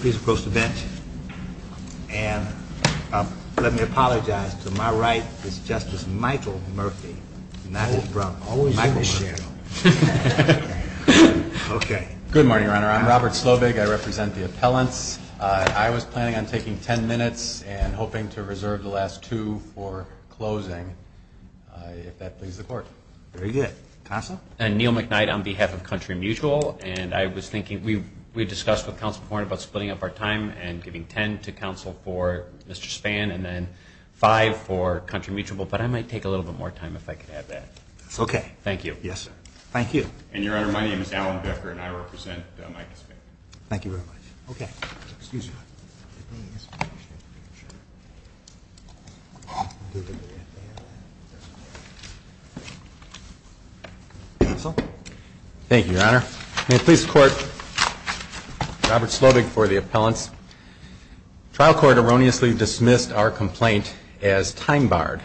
Please approach the bench. And let me apologize to my right, it's Justice Michael Murphy, not his brother. Michael's here. Good morning, Your Honor. I'm Robert Slovig. I represent the appellants. I was planning on taking ten minutes and hoping to reserve the last two for closing, if that pleases the Court. Very good. Counsel? Neil McKnight on behalf of Country Mutual. And I was thinking, we discussed with Counsel Horn about splitting up our time and giving ten to Counsel for Mr. Spann and then five for Country Mutual, but I might take a little bit more time if I could have that. That's okay. Thank you. Yes, sir. Thank you. And, Your Honor, my name is Alan Becker and I represent Michael Spann. Thank you very much. Okay. Excuse me. Thank you, Your Honor. May it please the Court, Robert Slovig for the appellants. The trial court erroneously dismissed our complaint as time barred.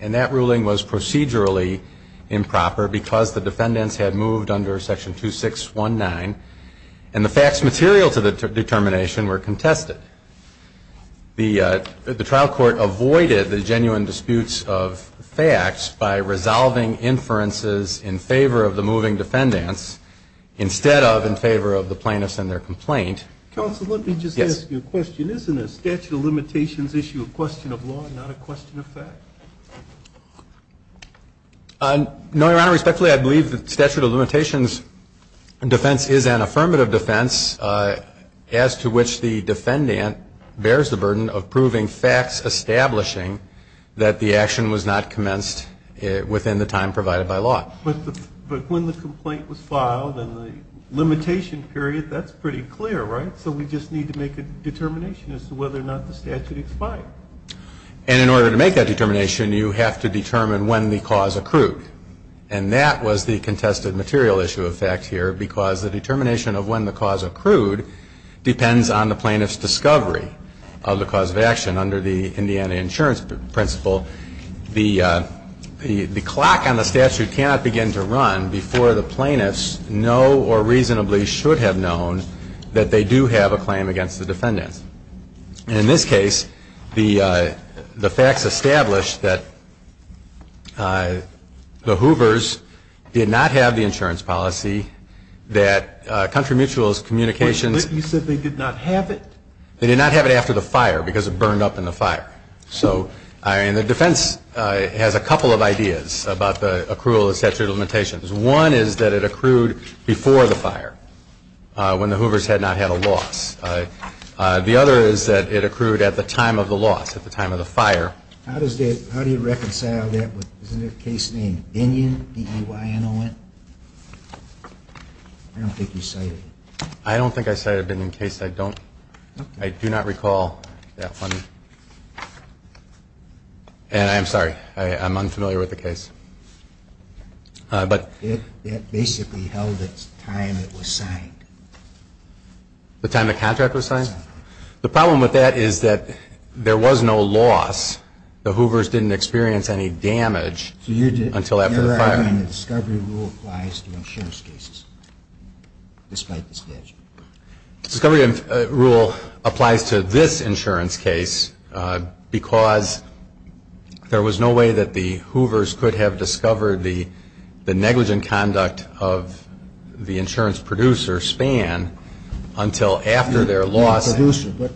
And that ruling was procedurally improper because the defendants had moved under Section 2619 and the facts material to the determination were contested. The trial court avoided the genuine disputes of facts by resolving inferences in favor of the moving defendants instead of in favor of the plaintiffs and their complaint. Counsel, let me just ask you a question. Isn't a statute of limitations issue a question of law and not a question of fact? No, Your Honor. Respectfully, I believe the statute of limitations defense is an affirmative defense as to which the defendant bears the burden of proving facts establishing that the action was not commenced within the time provided by law. But when the complaint was filed and the limitation period, that's pretty clear, right? So we just need to make a determination as to whether or not the statute expired. And in order to make that determination, you have to determine when the cause accrued. And that was the contested material issue of facts here because the determination of when the cause accrued depends on the plaintiff's discovery of the cause of action. And under the Indiana insurance principle, the clock on the statute cannot begin to run before the plaintiffs know or reasonably should have known that they do have a claim against the defendants. And in this case, the facts established that the Hoovers did not have the insurance policy, that Country Mutual's communications You said they did not have it? They did not have it after the fire because it burned up in the fire. And the defense has a couple of ideas about the accrual of the statute of limitations. One is that it accrued before the fire, when the Hoovers had not had a loss. The other is that it accrued at the time of the loss, at the time of the fire. How do you reconcile that with, isn't there a case named Binion, B-I-N-O-N? I don't think you cited it. I don't think I cited it in case I don't, I do not recall that one. And I'm sorry, I'm unfamiliar with the case. It basically held its time it was signed. The time the contract was signed? The problem with that is that there was no loss. The Hoovers didn't experience any damage until after the fire. And the discovery rule applies to insurance cases, despite the statute? The discovery rule applies to this insurance case because there was no way that the Hoovers could have discovered the negligent conduct of the insurance producer, Spann, until after their loss. The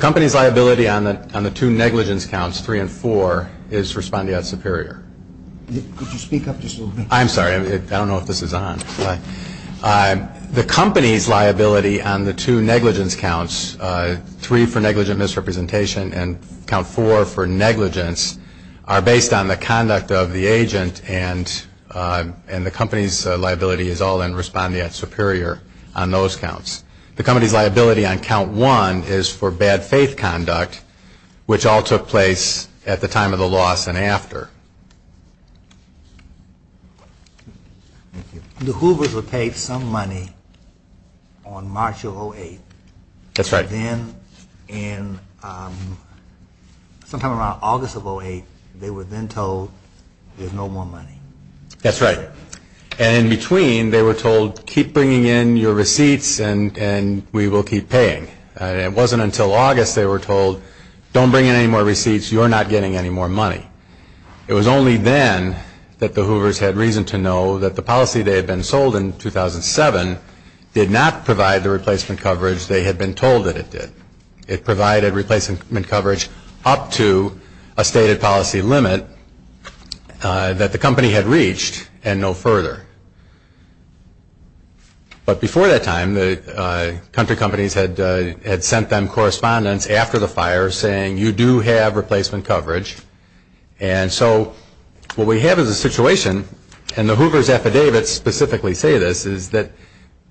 company's liability on the two negligence counts, 3 and 4, is respondeat superior. Could you speak up just a little bit? I'm sorry, I don't know if this is on. The company's liability on the two negligence counts, 3 for negligent misrepresentation and count 4 for negligence, are based on the conduct of the agent and the company's liability is all in respondeat superior on those counts. The company's liability on count 1 is for bad faith conduct, which all took place at the time of the loss and after. The Hoovers were paid some money on March of 08. That's right. And then sometime around August of 08, they were then told there's no more money. That's right. And in between, they were told keep bringing in your receipts and we will keep paying. It wasn't until August they were told don't bring in any more receipts. You're not getting any more money. It was only then that the Hoovers had reason to know that the policy they had been sold in 2007 did not provide the replacement coverage they had been told that it did. It provided replacement coverage up to a stated policy limit that the company had reached and no further. But before that time, the country companies had sent them correspondence after the fire saying, you do have replacement coverage. And so what we have is a situation, and the Hoovers' affidavits specifically say this, is that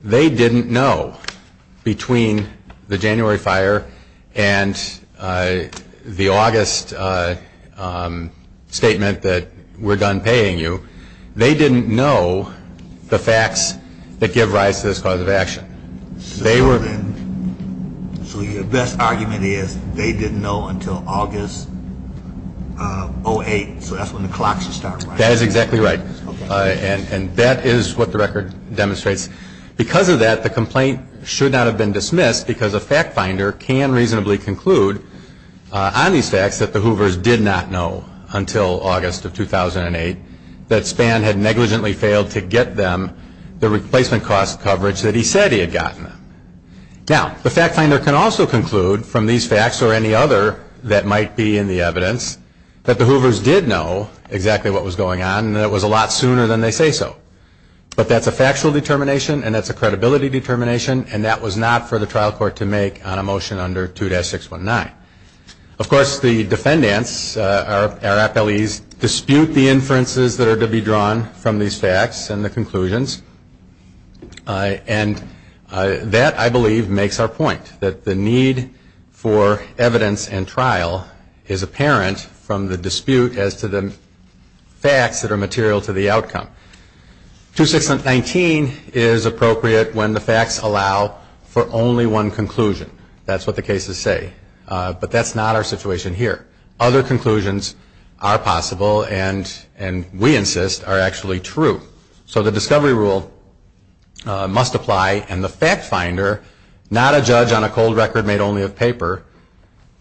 they didn't know between the January fire and the August statement that we're done paying you, they didn't know the facts that give rise to this cause of action. So your best argument is they didn't know until August 08, so that's when the clocks would start running. That is exactly right. And that is what the record demonstrates. Because of that, the complaint should not have been dismissed because a fact finder can reasonably conclude on these facts that the Hoovers did not know until August of 2008 that Spann had negligently failed to get them the replacement cost coverage that he said he had gotten them. Now, the fact finder can also conclude from these facts or any other that might be in the evidence that the Hoovers did know exactly what was going on and that it was a lot sooner than they say so. But that's a factual determination and that's a credibility determination, and that was not for the trial court to make on a motion under 2-619. Of course, the defendants, our appellees, dispute the inferences that are to be drawn from these facts and the conclusions. And that, I believe, makes our point that the need for evidence and trial is apparent from the dispute as to the facts that are material to the outcome. 2-619 is appropriate when the facts allow for only one conclusion. That's what the cases say. But that's not our situation here. Other conclusions are possible and, we insist, are actually true. So the discovery rule must apply. And the fact finder, not a judge on a cold record made only of paper,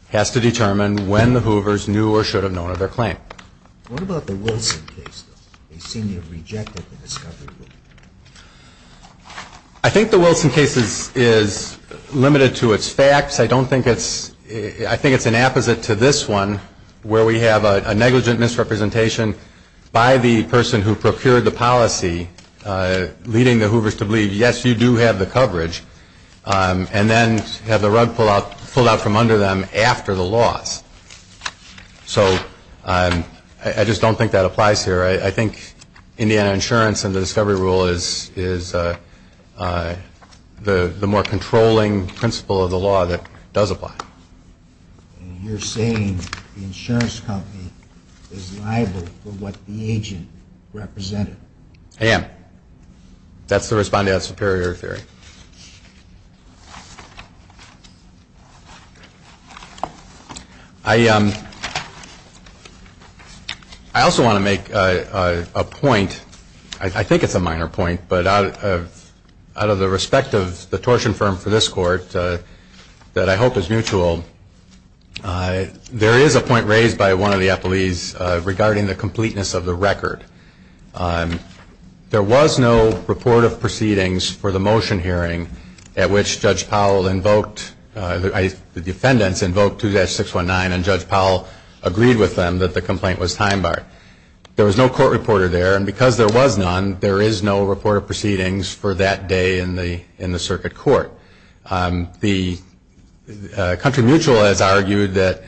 has to determine when the Hoovers knew or should have known of their claim. What about the Wilson case, though? They seem to have rejected the discovery rule. I think the Wilson case is limited to its facts. I don't think it's – I think it's an apposite to this one, where we have a negligent misrepresentation by the person who procured the policy, leading the Hoovers to believe, yes, you do have the coverage, and then have the rug pulled out from under them after the loss. So I just don't think that applies here. I think Indiana insurance and the discovery rule is the more controlling principle of the law that does apply. And you're saying the insurance company is liable for what the agent represented? I am. That's the respondeat superior theory. I also want to make a point – I think it's a minor point, but out of the respect of the tortion firm for this Court that I hope is mutual, there is a point raised by one of the appellees regarding the completeness of the record. There was no report of proceedings for the motion hearing at which Judge Powell invoked – the defendants invoked 2-619, and Judge Powell agreed with them that the complaint was time-barred. There was no court reporter there, and because there was none, there is no report of proceedings for that day in the circuit court. Country Mutual has argued that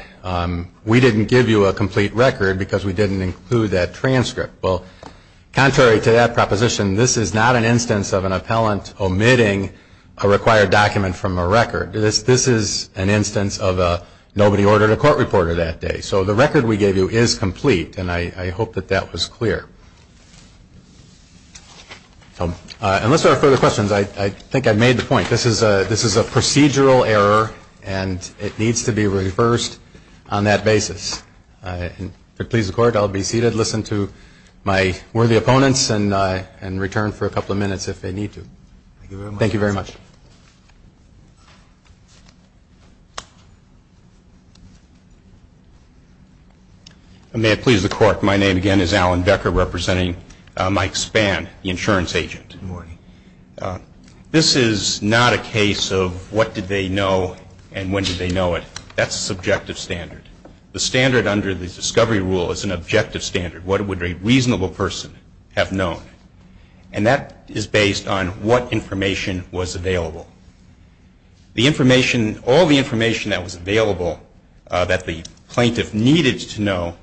we didn't give you a complete record because we didn't include that transcript. Well, contrary to that proposition, this is not an instance of an appellant omitting a required document from a record. This is an instance of nobody ordered a court reporter that day. So the record we gave you is complete, and I hope that that was clear. Unless there are further questions, I think I've made the point. This is a procedural error, and it needs to be reversed on that basis. If it pleases the Court, I'll be seated, listen to my worthy opponents, and return for a couple of minutes if they need to. Thank you very much. May it please the Court. My name again is Alan Becker, representing Mike Spann, the insurance agent. Good morning. This is not a case of what did they know and when did they know it. That's a subjective standard. The standard under the discovery rule is an objective standard. What would a reasonable person have known? And that is based on what information was available. The information, all the information that was available that the plaintiff needed to know,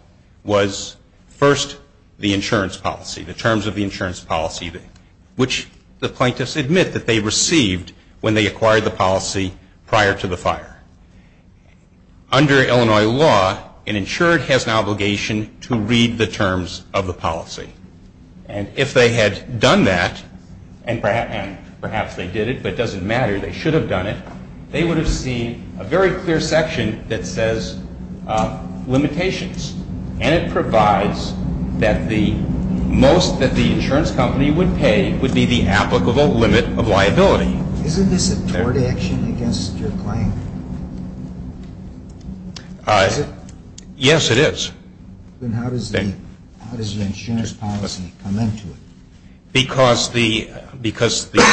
was first the insurance policy, the terms of the insurance policy, which the plaintiffs admit that they received when they acquired the policy prior to the fire. Under Illinois law, an insured has an obligation to read the terms of the policy. And if they had done that, and perhaps they did it, but it doesn't matter, they should have done it, they would have seen a very clear section that says limitations. And it provides that the most that the insurance company would pay would be the applicable limit of liability. Isn't this a tort action against your client? Yes, it is. Then how does the insurance policy come into it? Because the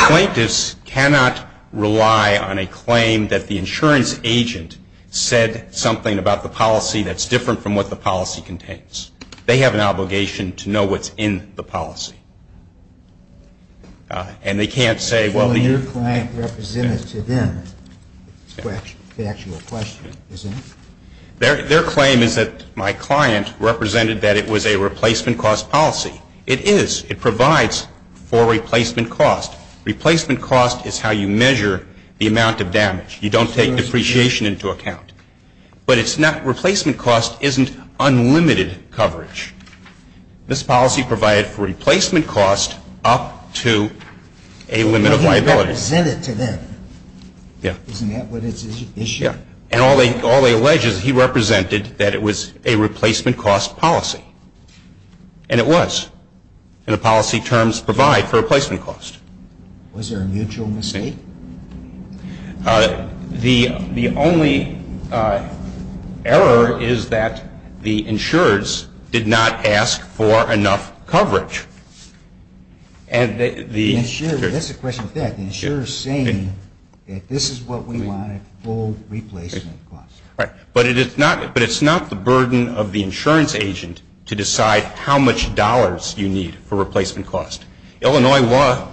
plaintiffs cannot rely on a claim that the insurance agent said something about the policy that's different from what the policy contains. They have an obligation to know what's in the policy. And they can't say, well, the- Your client represented to them the actual question, isn't it? Their claim is that my client represented that it was a replacement cost policy. It is. It provides for replacement cost. Replacement cost is how you measure the amount of damage. You don't take depreciation into account. But it's not – replacement cost isn't unlimited coverage. This policy provided for replacement cost up to a limit of liability. But they represented to them. Yeah. Isn't that what it's issued? Yeah. And all they allege is he represented that it was a replacement cost policy. And it was. And the policy terms provide for replacement cost. Was there a mutual mistake? The only error is that the insurers did not ask for enough coverage. And the- That's a question of fact. The insurer is saying that this is what we want, a full replacement cost. Right. But it's not the burden of the insurance agent to decide how much dollars you need for replacement cost. Illinois law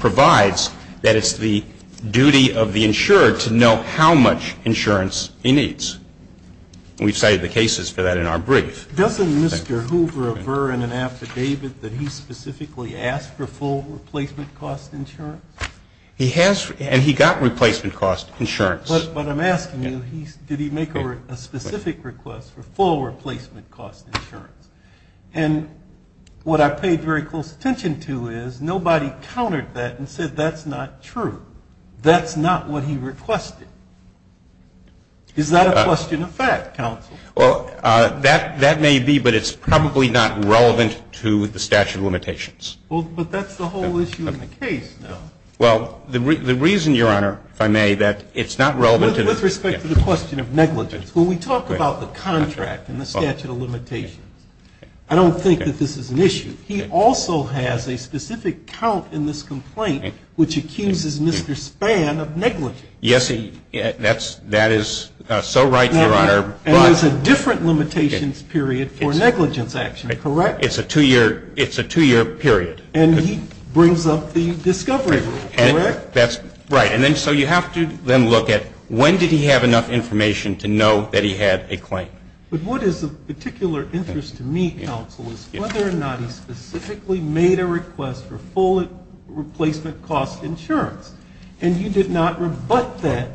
provides that it's the duty of the insurer to know how much insurance he needs. And we've cited the cases for that in our brief. Doesn't Mr. Hoover avert an affidavit that he specifically asked for full replacement cost insurance? He has. And he got replacement cost insurance. But I'm asking you, did he make a specific request for full replacement cost insurance? And what I paid very close attention to is nobody countered that and said that's not true. That's not what he requested. Is that a question of fact, counsel? Well, that may be, but it's probably not relevant to the statute of limitations. Well, but that's the whole issue of the case now. Well, the reason, Your Honor, if I may, that it's not relevant to the- With respect to the question of negligence. When we talk about the contract and the statute of limitations, I don't think that this is an issue. He also has a specific count in this complaint which accuses Mr. Spann of negligence. Yes, that is so right, Your Honor. And there's a different limitations period for negligence action, correct? It's a two-year period. And he brings up the discovery rule, correct? That's right. And then so you have to then look at when did he have enough information to know that he had a claim. But what is of particular interest to me, counsel, is whether or not he specifically made a request for full replacement cost insurance. And you did not rebut that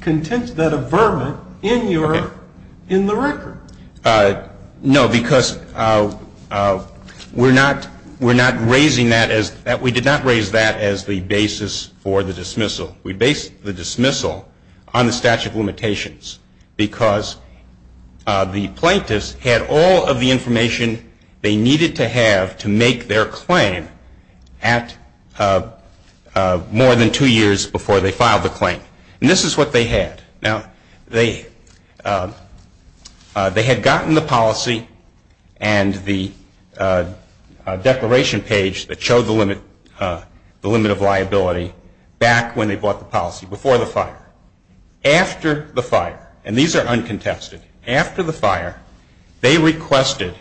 content, that averment in the record. No, because we're not raising that as-we did not raise that as the basis for the dismissal. We based the dismissal on the statute of limitations because the plaintiffs had all of the information they needed to have to make their claim at more than two years before they filed the claim. And this is what they had. Now, they had gotten the policy and the declaration page that showed the limit of liability back when they bought the policy, before the fire. After the fire, and these are uncontested, after the fire, they requested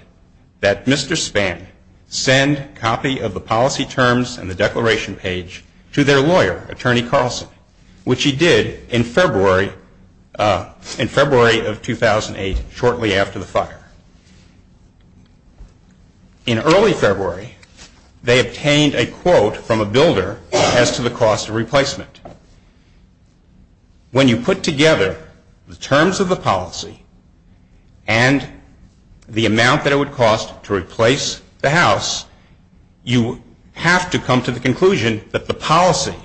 that Mr. Spann send a copy of the policy terms and the declaration page to their lawyer, Attorney Carlson, which he did in February of 2008, shortly after the fire. In early February, they obtained a quote from a builder as to the cost of replacement. When you put together the terms of the policy and the amount that it would cost to replace the house, you have to come to the conclusion that the policy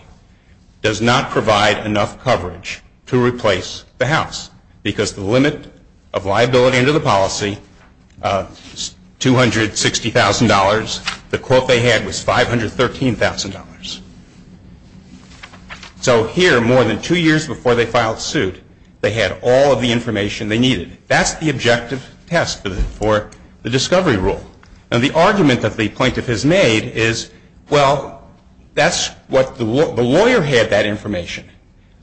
does not provide enough coverage to replace the house, because the limit of liability under the policy is $260,000. The quote they had was $513,000. So here, more than two years before they filed suit, they had all of the information they needed. That's the objective test for the discovery rule. Now, the argument that the plaintiff has made is, well, that's what the lawyer had that information,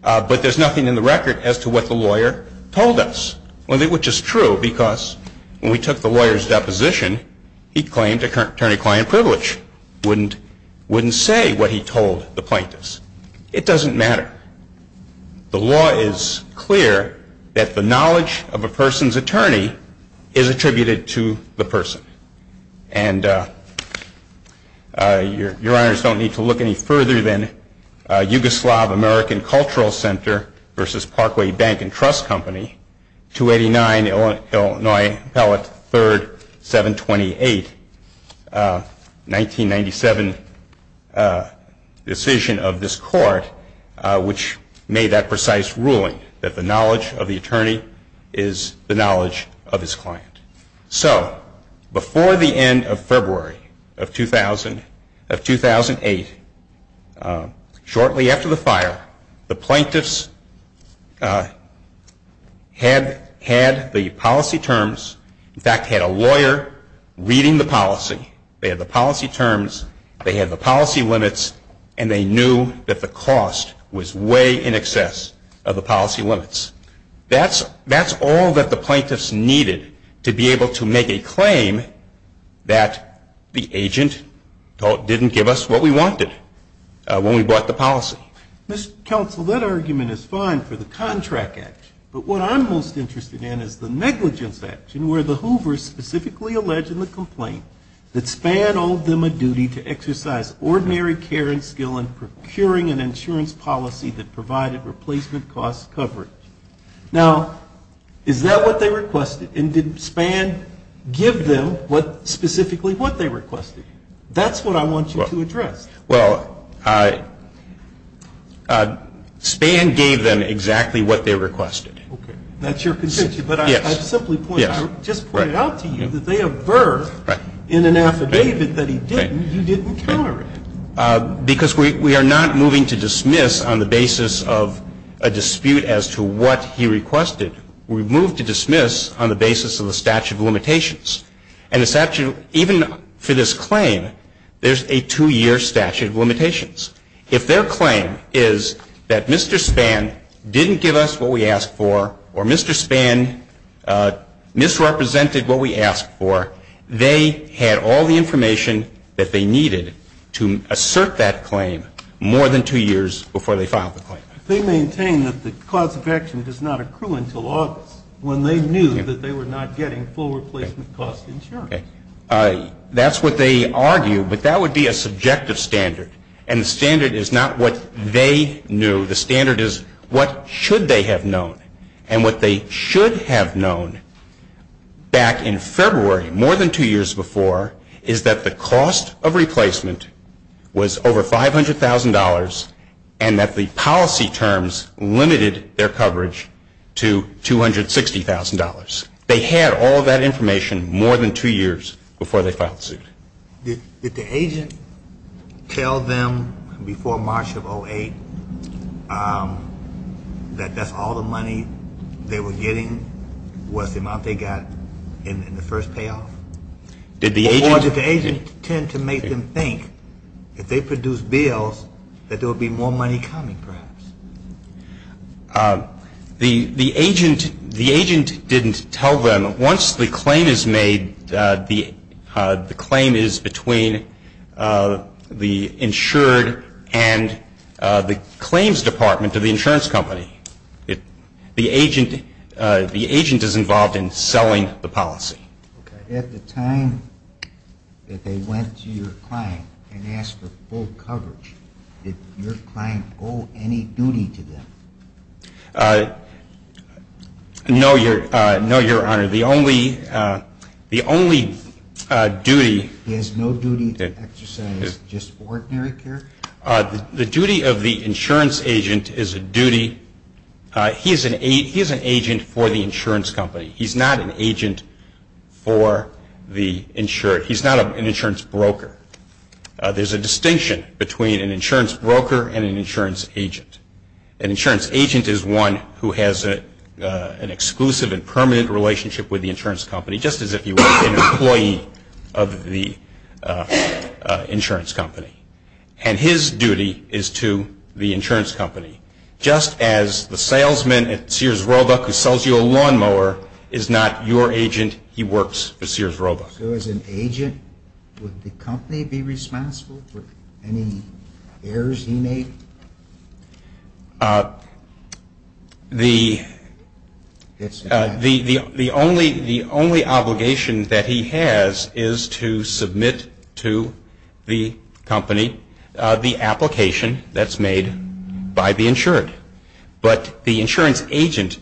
but there's nothing in the record as to what the lawyer told us, which is true, because when we took the lawyer's deposition, he claimed attorney-client privilege. He wouldn't say what he told the plaintiffs. It doesn't matter. The law is clear that the knowledge of a person's attorney is attributed to the person. And your honors don't need to look any further than Yugoslav American Cultural Center versus Parkway Bank and Trust Company, 289 Illinois Appellate 3rd, 728, 1997 decision of this court, which made that precise ruling that the knowledge of the attorney is the knowledge of his client. So before the end of February of 2008, shortly after the fire, the plaintiffs had the policy terms. In fact, had a lawyer reading the policy. They had the policy terms, they had the policy limits, and they knew that the cost was way in excess of the policy limits. That's all that the plaintiffs needed to be able to make a claim that the agent didn't give us what we wanted when we bought the policy. Mr. Counsel, that argument is fine for the Contract Act, but what I'm most interested in is the Negligence Act, where the Hoovers specifically allege in the complaint that Spann owed them a duty to exercise ordinary care and skill in procuring an insurance policy that provided replacement cost coverage. Now, is that what they requested? And did Spann give them specifically what they requested? That's what I want you to address. Well, Spann gave them exactly what they requested. Okay. That's your contention. Yes. But I simply point out, just pointed out to you that they have birthed in an affidavit that he didn't, you didn't counter it. Because we are not moving to dismiss on the basis of a dispute as to what he requested. We've moved to dismiss on the basis of the statute of limitations. And the statute, even for this claim, there's a two-year statute of limitations. If their claim is that Mr. Spann didn't give us what we asked for, or Mr. Spann misrepresented what we asked for, they had all the information that they needed to assert that claim more than two years before they filed the claim. They maintain that the cause of action does not accrue until August, when they knew that they were not getting full replacement cost insurance. That's what they argue. But that would be a subjective standard. And the standard is not what they knew. The standard is what should they have known. And what they should have known back in February, more than two years before, is that the cost of replacement was over $500,000 and that the policy terms limited their coverage to $260,000. They had all that information more than two years before they filed the suit. Did the agent tell them before March of 08 that that's all the money they were getting was the amount they got in the first payoff? Or did the agent tend to make them think if they produced bills that there would be more money coming perhaps? The agent didn't tell them. Once the claim is made, the claim is between the insured and the claims department of the insurance company. The agent is involved in selling the policy. At the time that they went to your client and asked for full coverage, did your client owe any duty to them? No, Your Honor. The only duty he has no duty to exercise is just ordinary care? The duty of the insurance agent is a duty. He is an agent for the insurance company. He's not an agent for the insured. He's not an insurance broker. There's a distinction between an insurance broker and an insurance agent. An insurance agent is one who has an exclusive and permanent relationship with the insurance company, just as if you were an employee of the insurance company. And his duty is to the insurance company. Just as the salesman at Sears Roebuck who sells you a lawnmower is not your agent, he works for Sears Roebuck. So as an agent, would the company be responsible for any errors he made? The only obligation that he has is to submit to the company the application that's made by the insured. But the insurance agent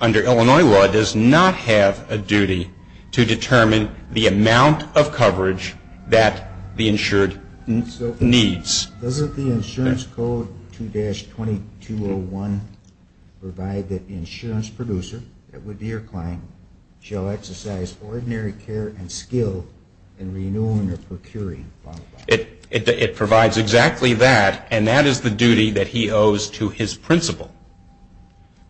under Illinois law does not have a duty to determine the amount of coverage that the insured needs. Doesn't the insurance code 2-2201 provide that the insurance producer, that would be your client, shall exercise ordinary care and skill in renewing or procuring a lawnmower? It provides exactly that, and that is the duty that he owes to his principal,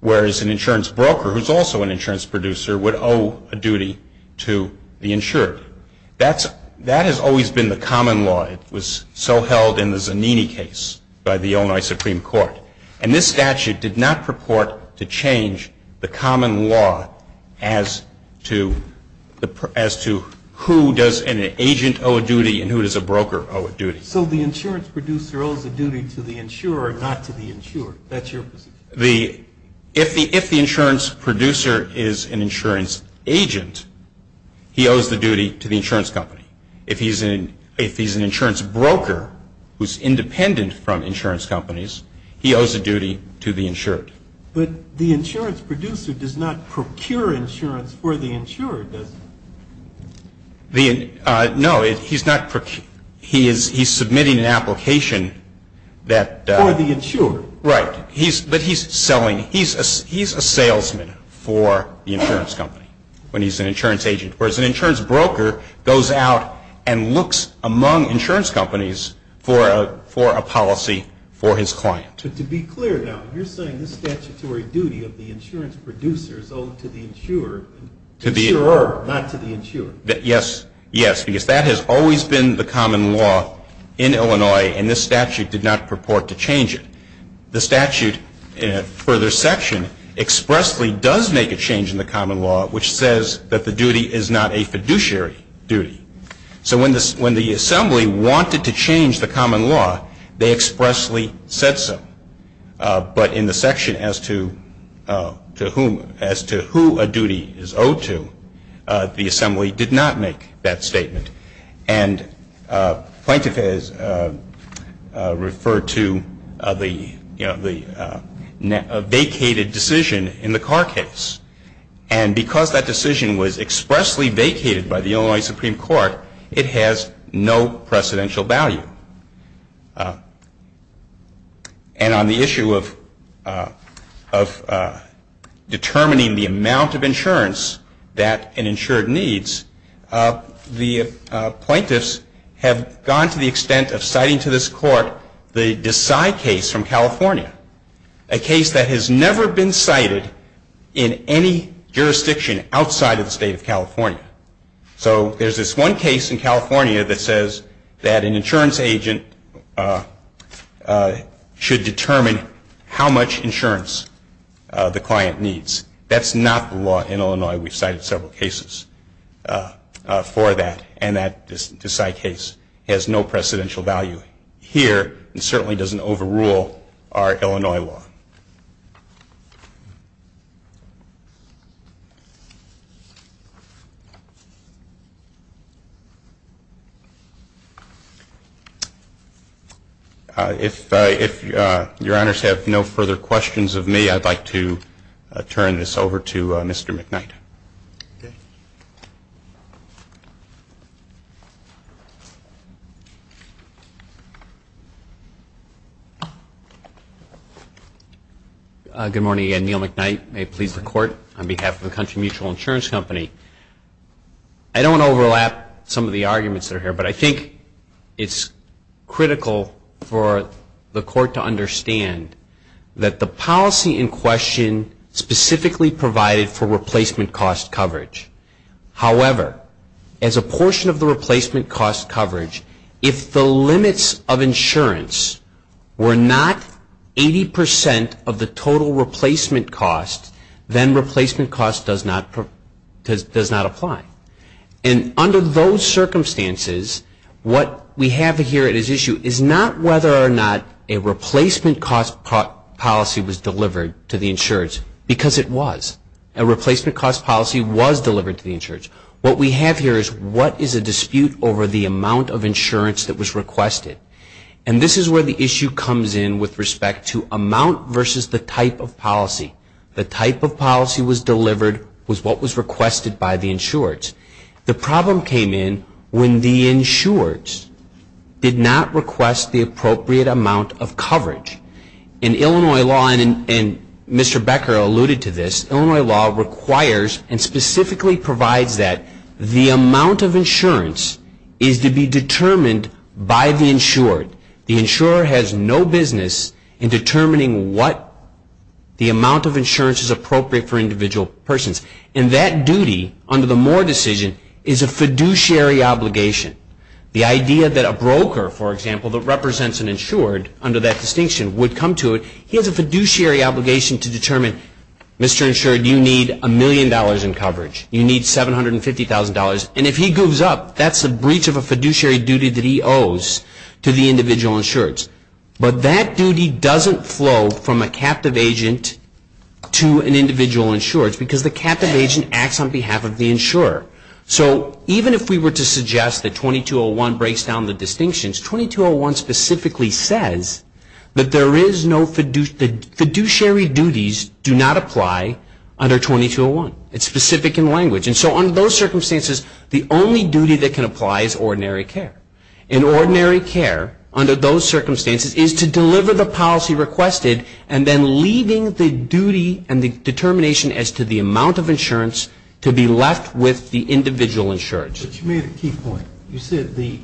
whereas an insurance broker, who's also an insurance producer, would owe a duty to the insured. That has always been the common law. It was so held in the Zanini case by the Illinois Supreme Court. And this statute did not purport to change the common law as to who does an agent owe a duty and who does a broker owe a duty. So the insurance producer owes a duty to the insured, not to the insured. That's your position? If the insurance producer is an insurance agent, he owes the duty to the insurance company. If he's an insurance broker who's independent from insurance companies, he owes a duty to the insured. But the insurance producer does not procure insurance for the insured, does he? No, he's not. He's submitting an application that... For the insured. Right. But he's selling, he's a salesman for the insurance company when he's an insurance agent, whereas an insurance broker goes out and looks among insurance companies for a policy for his client. But to be clear now, you're saying this statutory duty of the insurance producer is owed to the insurer, not to the insured. Yes, yes, because that has always been the common law in Illinois, and this statute did not purport to change it. The statute in a further section expressly does make a change in the common law which says that the duty is not a fiduciary duty. So when the assembly wanted to change the common law, they expressly said so. But in the section as to who a duty is owed to, the assembly did not make that statement. And Plaintiff has referred to the vacated decision in the Carr case. And because that decision was expressly vacated by the Illinois Supreme Court, it has no precedential value. And on the issue of determining the amount of insurance that an insured needs, the plaintiffs have gone to the extent of citing to this Court the Decide case from California, a case that has never been cited in any jurisdiction outside of the state of California. So there's this one case in California that says that an insurance agent should determine how much insurance the client needs. That's not the law in Illinois. We've cited several cases. For that, and that Decide case has no precedential value here and certainly doesn't overrule our Illinois law. If your honors have no further questions of me, I'd like to turn this over to Mr. McKnight. Thank you. Good morning again. Neil McKnight, may it please the Court, on behalf of the Country Mutual Insurance Company. I don't want to overlap some of the arguments that are here, but I think it's critical for the Court to understand that the policy in question specifically provided for replacement cost coverage. However, as a portion of the replacement cost coverage, if the limits of insurance were not 80% of the total replacement cost, then replacement cost does not apply. And under those circumstances, what we have here at issue is not whether or not a replacement cost policy was delivered to the insurance, because it was. A replacement cost policy was delivered to the insurance. What we have here is what is a dispute over the amount of insurance that was requested. And this is where the issue comes in with respect to amount versus the type of policy. The type of policy was delivered was what was requested by the insureds. The problem came in when the insureds did not request the appropriate amount of coverage. In Illinois law, and Mr. Becker alluded to this, Illinois law requires and specifically provides that the amount of insurance The insurer has no business in determining what the amount of insurance is appropriate for individual persons. And that duty under the Moore decision is a fiduciary obligation. The idea that a broker, for example, that represents an insured under that distinction would come to it. He has a fiduciary obligation to determine, Mr. Insured, you need a million dollars in coverage. You need $750,000. And if he goes up, that's a breach of a fiduciary duty that he owes to the individual insureds. But that duty doesn't flow from a captive agent to an individual insured, because the captive agent acts on behalf of the insurer. So even if we were to suggest that 2201 breaks down the distinctions, 2201 specifically says that there is no fiduciary duties do not apply under 2201. It's specific in language. And so under those circumstances, the only duty that can apply is ordinary care. And ordinary care, under those circumstances, is to deliver the policy requested and then leaving the duty and the determination as to the amount of insurance to be left with the individual insured. But you made a key point. You said the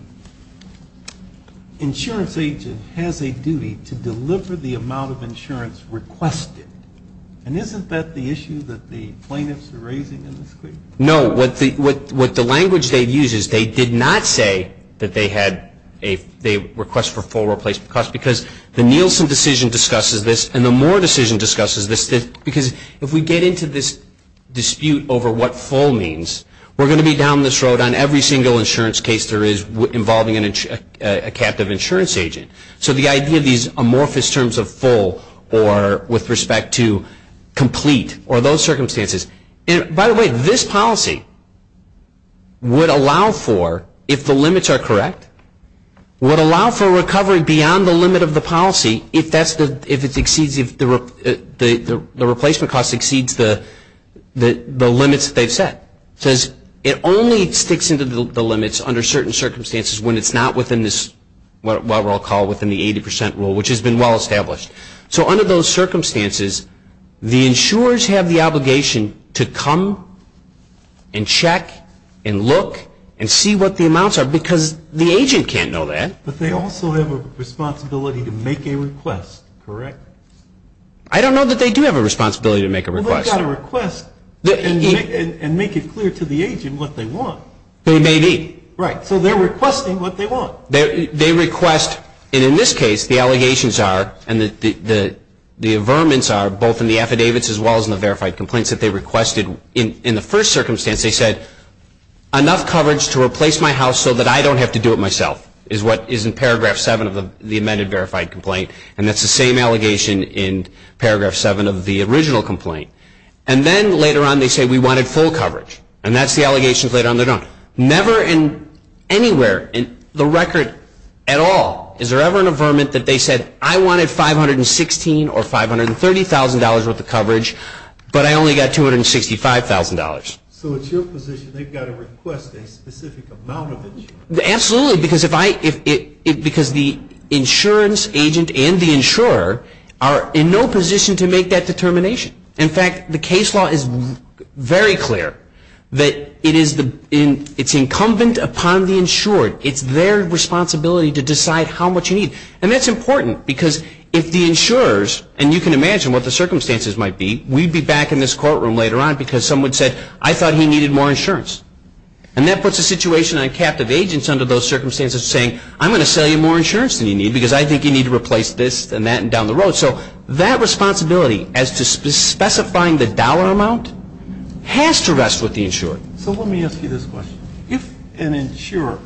insurance agent has a duty to deliver the amount of insurance requested. And isn't that the issue that the plaintiffs are raising in this case? No. What the language they use is they did not say that they had a request for full replacement costs, because the Nielsen decision discusses this, and the Moore decision discusses this, because if we get into this dispute over what full means, we're going to be down this road on every single insurance case there is involving a captive insurance agent. So the idea of these amorphous terms of full or with respect to complete or those circumstances. By the way, this policy would allow for, if the limits are correct, would allow for recovery beyond the limit of the policy if it exceeds the replacement cost exceeds the limits that they've set. It only sticks into the limits under certain circumstances when it's not within this, what we'll call within the 80 percent rule, which has been well established. So under those circumstances, the insurers have the obligation to come and check and look and see what the amounts are, because the agent can't know that. But they also have a responsibility to make a request, correct? I don't know that they do have a responsibility to make a request. Well, they've got to request and make it clear to the agent what they want. They may be. Right. So they're requesting what they want. They request, and in this case, the allegations are and the averments are both in the affidavits as well as in the verified complaints that they requested. In the first circumstance, they said, enough coverage to replace my house so that I don't have to do it myself, is what is in Paragraph 7 of the amended verified complaint. And that's the same allegation in Paragraph 7 of the original complaint. And then later on, they say, we wanted full coverage. And that's the allegations later on. Never in anywhere in the record at all is there ever an averment that they said, I wanted 516 or $530,000 worth of coverage, but I only got $265,000. So it's your position they've got to request a specific amount of it. Absolutely. Because the insurance agent and the insurer are in no position to make that determination. In fact, the case law is very clear that it's incumbent upon the insured. It's their responsibility to decide how much you need. And that's important because if the insurers, and you can imagine what the circumstances might be, we'd be back in this courtroom later on because someone said, I thought he needed more insurance. And that puts a situation on captive agents under those circumstances saying, I'm going to sell you more insurance than you need because I think you need to replace this and that and down the road. So that responsibility as to specifying the dollar amount has to rest with the insured. So let me ask you this question. If an insurer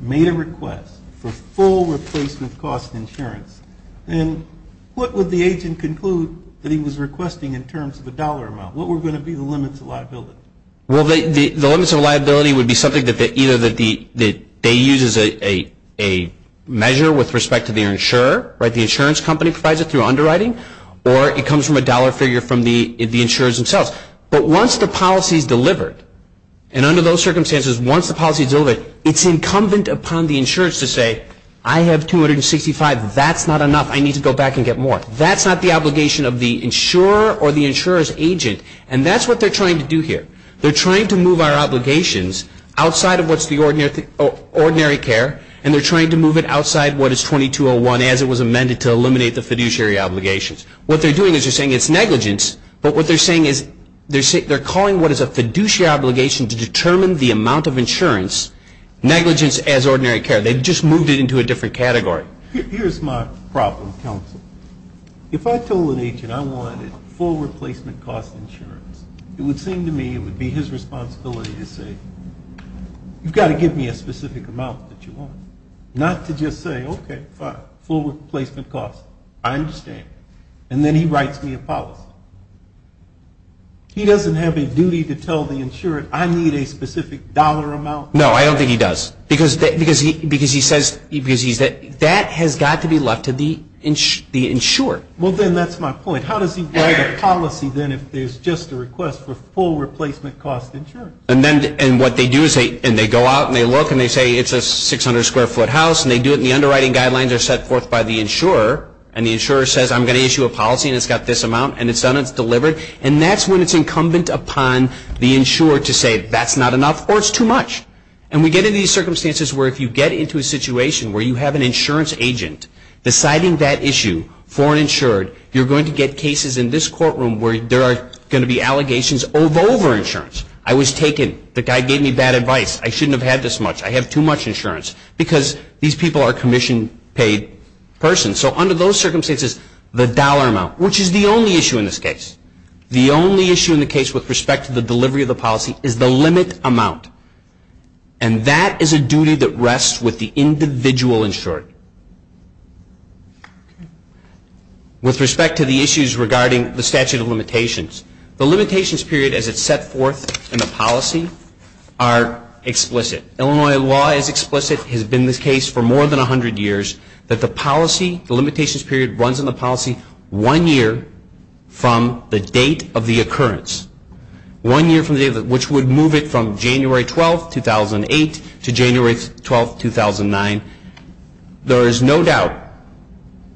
made a request for full replacement cost insurance, then what would the agent conclude that he was requesting in terms of a dollar amount? What were going to be the limits of liability? Well, the limits of liability would be something that either they use as a measure with respect to the insurer, the insurance company provides it through underwriting, or it comes from a dollar figure from the insurers themselves. But once the policy is delivered, and under those circumstances, once the policy is delivered, it's incumbent upon the insurers to say, I have 265. That's not enough. I need to go back and get more. That's not the obligation of the insurer or the insurer's agent. And that's what they're trying to do here. They're trying to move our obligations outside of what's the ordinary care, and they're trying to move it outside what is 2201 as it was amended to eliminate the fiduciary obligations. What they're doing is they're saying it's negligence, but what they're saying is they're calling what is a fiduciary obligation to determine the amount of insurance, negligence as ordinary care. They've just moved it into a different category. Here's my problem, counsel. If I told an agent I wanted full replacement cost insurance, it would seem to me it would be his responsibility to say, you've got to give me a specific amount that you want. Not to just say, okay, fine, full replacement cost. I understand. And then he writes me a policy. He doesn't have a duty to tell the insurer I need a specific dollar amount. No, I don't think he does. Because he says that has got to be left to the insurer. Well, then that's my point. How does he write a policy then if there's just a request for full replacement cost insurance? And what they do is they go out and they look and they say it's a 600-square-foot house, and they do it and the underwriting guidelines are set forth by the insurer, and the insurer says I'm going to issue a policy and it's got this amount, and it's done, it's delivered. And that's when it's incumbent upon the insurer to say that's not enough or it's too much. And we get into these circumstances where if you get into a situation where you have an insurance agent deciding that issue for an insured, you're going to get cases in this courtroom where there are going to be allegations of over-insurance. I was taken. The guy gave me bad advice. I shouldn't have had this much. I have too much insurance because these people are commission-paid persons. So under those circumstances, the dollar amount, which is the only issue in this case, the only issue in the case with respect to the delivery of the policy is the limit amount. And that is a duty that rests with the individual insured. With respect to the issues regarding the statute of limitations, the limitations period as it's set forth in the policy are explicit. Illinois law is explicit, has been the case for more than 100 years, that the policy, the limitations period runs in the policy one year from the date of the occurrence. One year from the date which would move it from January 12, 2008 to January 12, 2009. There is no doubt,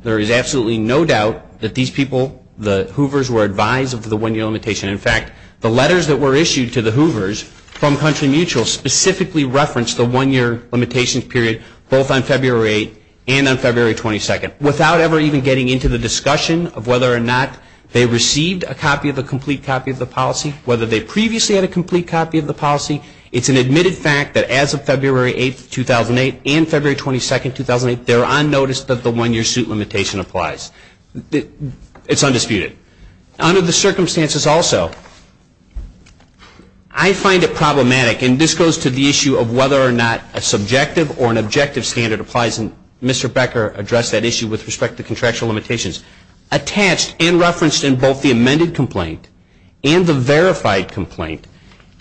there is absolutely no doubt that these people, the Hoovers were advised of the one-year limitation. In fact, the letters that were issued to the Hoovers from Country Mutual specifically referenced the one-year limitation period both on February 8 and on February 22. Without ever even getting into the discussion of whether or not they received a complete copy of the policy, whether they previously had a complete copy of the policy, it's an admitted fact that as of February 8, 2008 and February 22, 2008, they're on notice that the one-year suit limitation applies. It's undisputed. Under the circumstances also, I find it problematic, and this goes to the issue of whether or not a subjective or an objective standard applies, and Mr. Becker addressed that issue with respect to contractual limitations. Attached and referenced in both the amended complaint and the verified complaint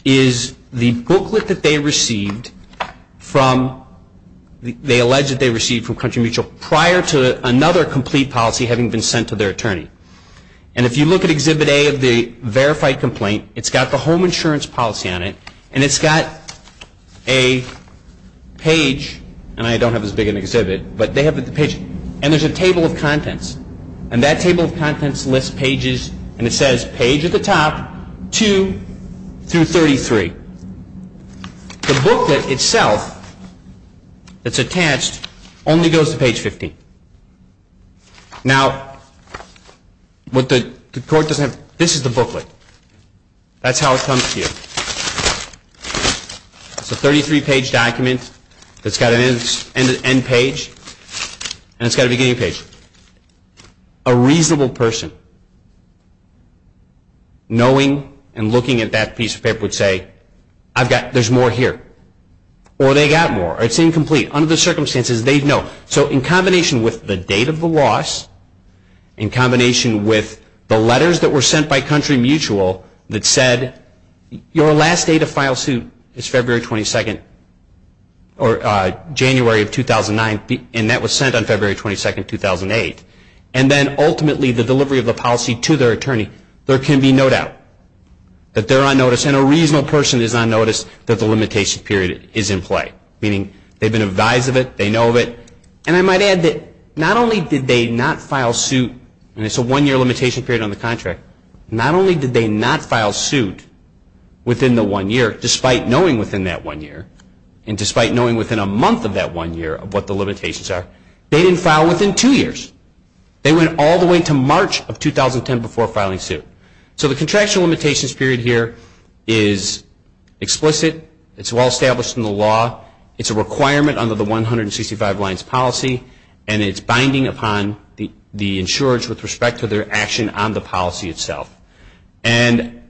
is the booklet that they received from, they alleged that they received from Country Mutual prior to another complete policy having been sent to their attorney. And if you look at Exhibit A of the verified complaint, it's got the home insurance policy on it, and it's got a page, and I don't have as big an exhibit, but they have the page, and there's a table of contents, and that table of contents lists pages, and it says page at the top, 2 through 33. The booklet itself that's attached only goes to page 15. Now, what the court doesn't have, this is the booklet. That's how it comes to you. It's a 33-page document that's got an end page, and it's got a beginning page. A reasonable person knowing and looking at that piece of paper would say, I've got, there's more here, or they got more, or it's incomplete. Under the circumstances, they'd know. So in combination with the date of the loss, in combination with the letters that were sent by Country Mutual that said, your last date of file suit is February 22nd, or January of 2009, and that was sent on February 22nd, 2008, and then ultimately the delivery of the policy to their attorney, there can be no doubt that they're on notice, and a reasonable person is on notice that the limitation period is in play, meaning they've been advised of it, they know of it, and I might add that not only did they not file suit, and it's a one-year limitation period on the contract, not only did they not file suit within the one year, despite knowing within that one year, and despite knowing within a month of that one year of what the limitations are, they didn't file within two years. They went all the way to March of 2010 before filing suit. So the contraction limitations period here is explicit. It's well established in the law. It's a requirement under the 165 lines policy, and it's binding upon the insurers with respect to their action on the policy itself. And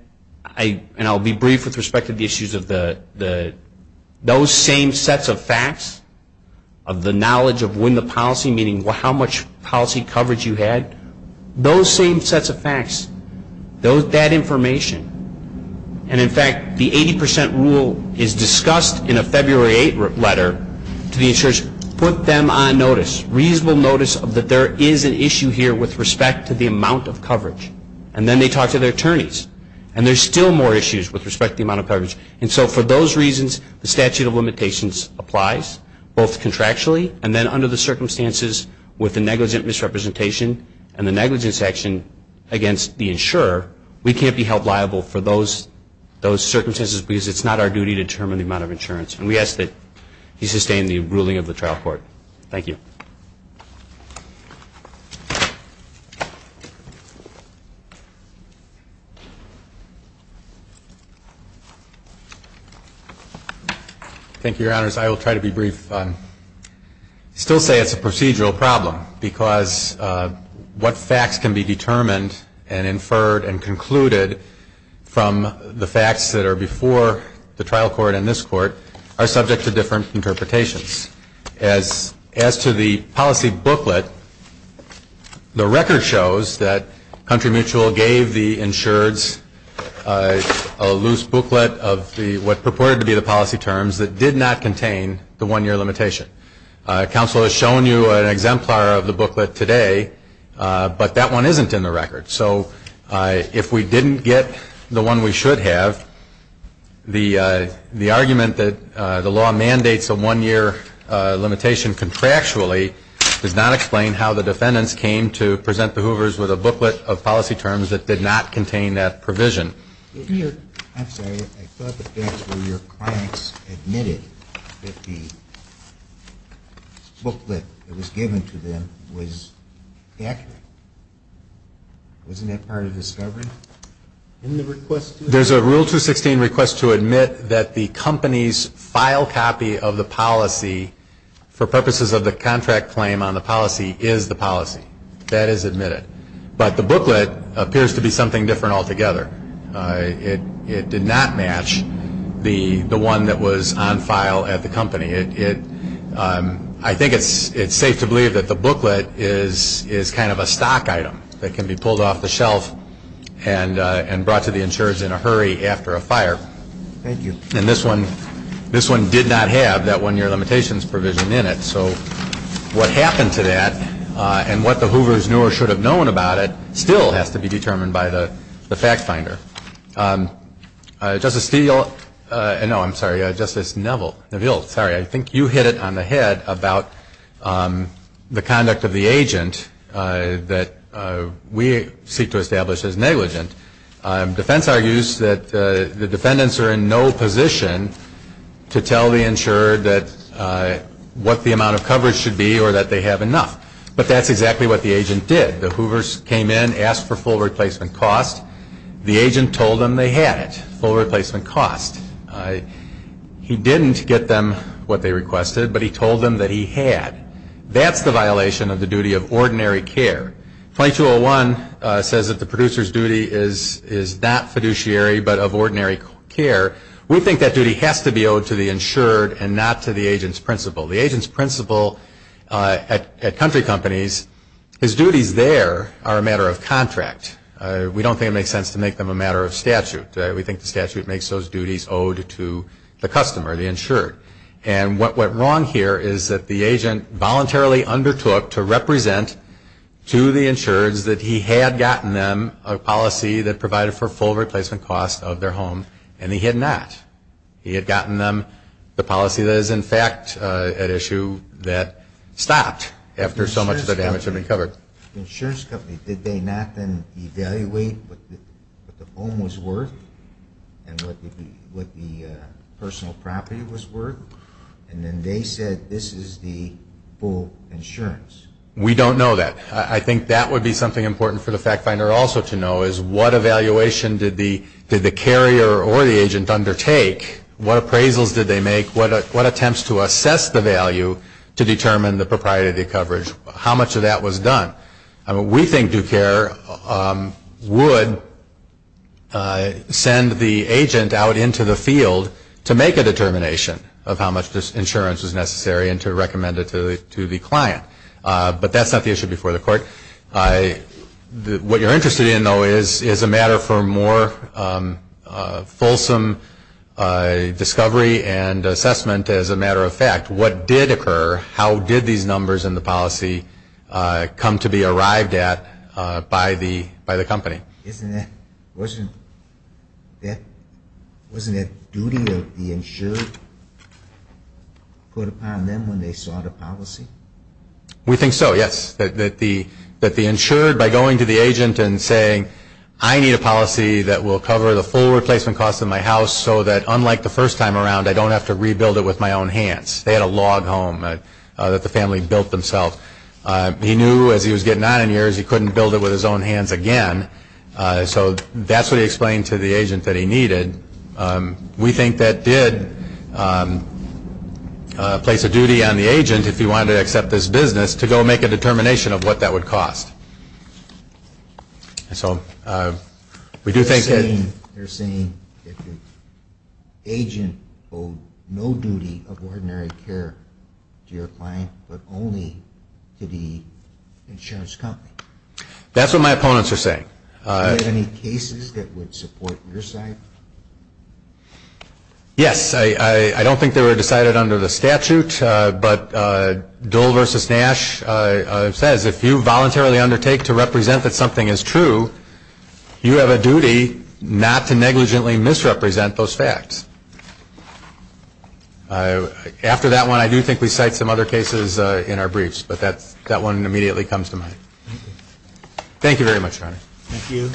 I'll be brief with respect to the issues of those same sets of facts, of the knowledge of when the policy, meaning how much policy coverage you had, those same sets of facts, that information, and, in fact, the 80 percent rule is discussed in a February 8 letter to the insurers. Put them on notice, reasonable notice, that there is an issue here with respect to the amount of coverage. And then they talk to their attorneys, and there's still more issues with respect to the amount of coverage. And so for those reasons, the statute of limitations applies, both contractually and then under the circumstances with the negligent misrepresentation and the negligent section against the insurer, we can't be held liable for those circumstances because it's not our duty to determine the amount of insurance. And we ask that you sustain the ruling of the trial court. Thank you. Thank you, Your Honors. I will try to be brief. I still say it's a procedural problem because what facts can be determined and inferred and concluded from the facts that are before the trial court and this court are subject to different interpretations. As to the policy booklet, the record shows that Country Mutual gave the insureds a loose booklet of what purported to be the policy terms that did not contain the one-year limitation. Counsel has shown you an exemplar of the booklet today, but that one isn't in the record. So if we didn't get the one we should have, the argument that the law mandates a one-year limitation contractually does not explain how the defendants came to present the Hoovers with a booklet of policy terms that did not contain that provision. I'm sorry. I thought the facts were your clients admitted that the booklet that was given to them was accurate. Wasn't that part of discovery? There's a Rule 216 request to admit that the company's file copy of the policy for purposes of the contract claim on the policy is the policy. That is admitted. But the booklet appears to be something different altogether. It did not match the one that was on file at the company. I think it's safe to believe that the booklet is kind of a stock item that can be pulled off the shelf and brought to the insureds in a hurry after a fire. Thank you. And this one did not have that one-year limitations provision in it. So what happened to that and what the Hoovers knew or should have known about it still has to be determined by the fact finder. Justice Steele, no, I'm sorry, Justice Neville, sorry, I think you hit it on the head about the conduct of the agent that we seek to establish as negligent. Defense argues that the defendants are in no position to tell the insured what the amount of coverage should be or that they have enough. But that's exactly what the agent did. The Hoovers came in, asked for full replacement cost. The agent told them they had it, full replacement cost. He didn't get them what they requested, but he told them that he had. That's the violation of the duty of ordinary care. 2201 says that the producer's duty is not fiduciary but of ordinary care. We think that duty has to be owed to the insured and not to the agent's principal. The agent's principal at country companies, his duties there are a matter of contract. We don't think it makes sense to make them a matter of statute. We think the statute makes those duties owed to the customer, the insured. And what went wrong here is that the agent voluntarily undertook to represent to the insureds that he had gotten them a policy that provided for full replacement cost of their home and he had not. He had gotten them the policy that is, in fact, an issue that stopped after so much of the damage had been covered. The insurance company, did they not then evaluate what the home was worth and what the personal property was worth? And then they said this is the full insurance. We don't know that. I think that would be something important for the fact finder also to know is what evaluation did the carrier or the agent undertake? What appraisals did they make? What attempts to assess the value to determine the propriety coverage? How much of that was done? We think due care would send the agent out into the field to make a determination of how much insurance was necessary and to recommend it to the client. But that's not the issue before the court. What you're interested in, though, is a matter for more fulsome discovery and assessment as a matter of fact. What did occur? How did these numbers in the policy come to be arrived at by the company? Wasn't it duty of the insured put upon them when they saw the policy? We think so, yes. That the insured, by going to the agent and saying, I need a policy that will cover the full replacement costs of my house so that, unlike the first time around, I don't have to rebuild it with my own hands. They had a log home that the family built themselves. He knew as he was getting on in years he couldn't build it with his own hands again. So that's what he explained to the agent that he needed. We think that did place a duty on the agent, if he wanted to accept this business, to go make a determination of what that would cost. They're saying that the agent owed no duty of ordinary care to your client but only to the insurance company. That's what my opponents are saying. Were there any cases that would support your side? Yes. I don't think they were decided under the statute. But Dole v. Nash says, if you voluntarily undertake to represent that something is true, you have a duty not to negligently misrepresent those facts. After that one, I do think we cite some other cases in our briefs. But that one immediately comes to mind. Thank you very much, Your Honor. Thank you.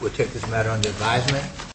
We'll take this matter under advisement.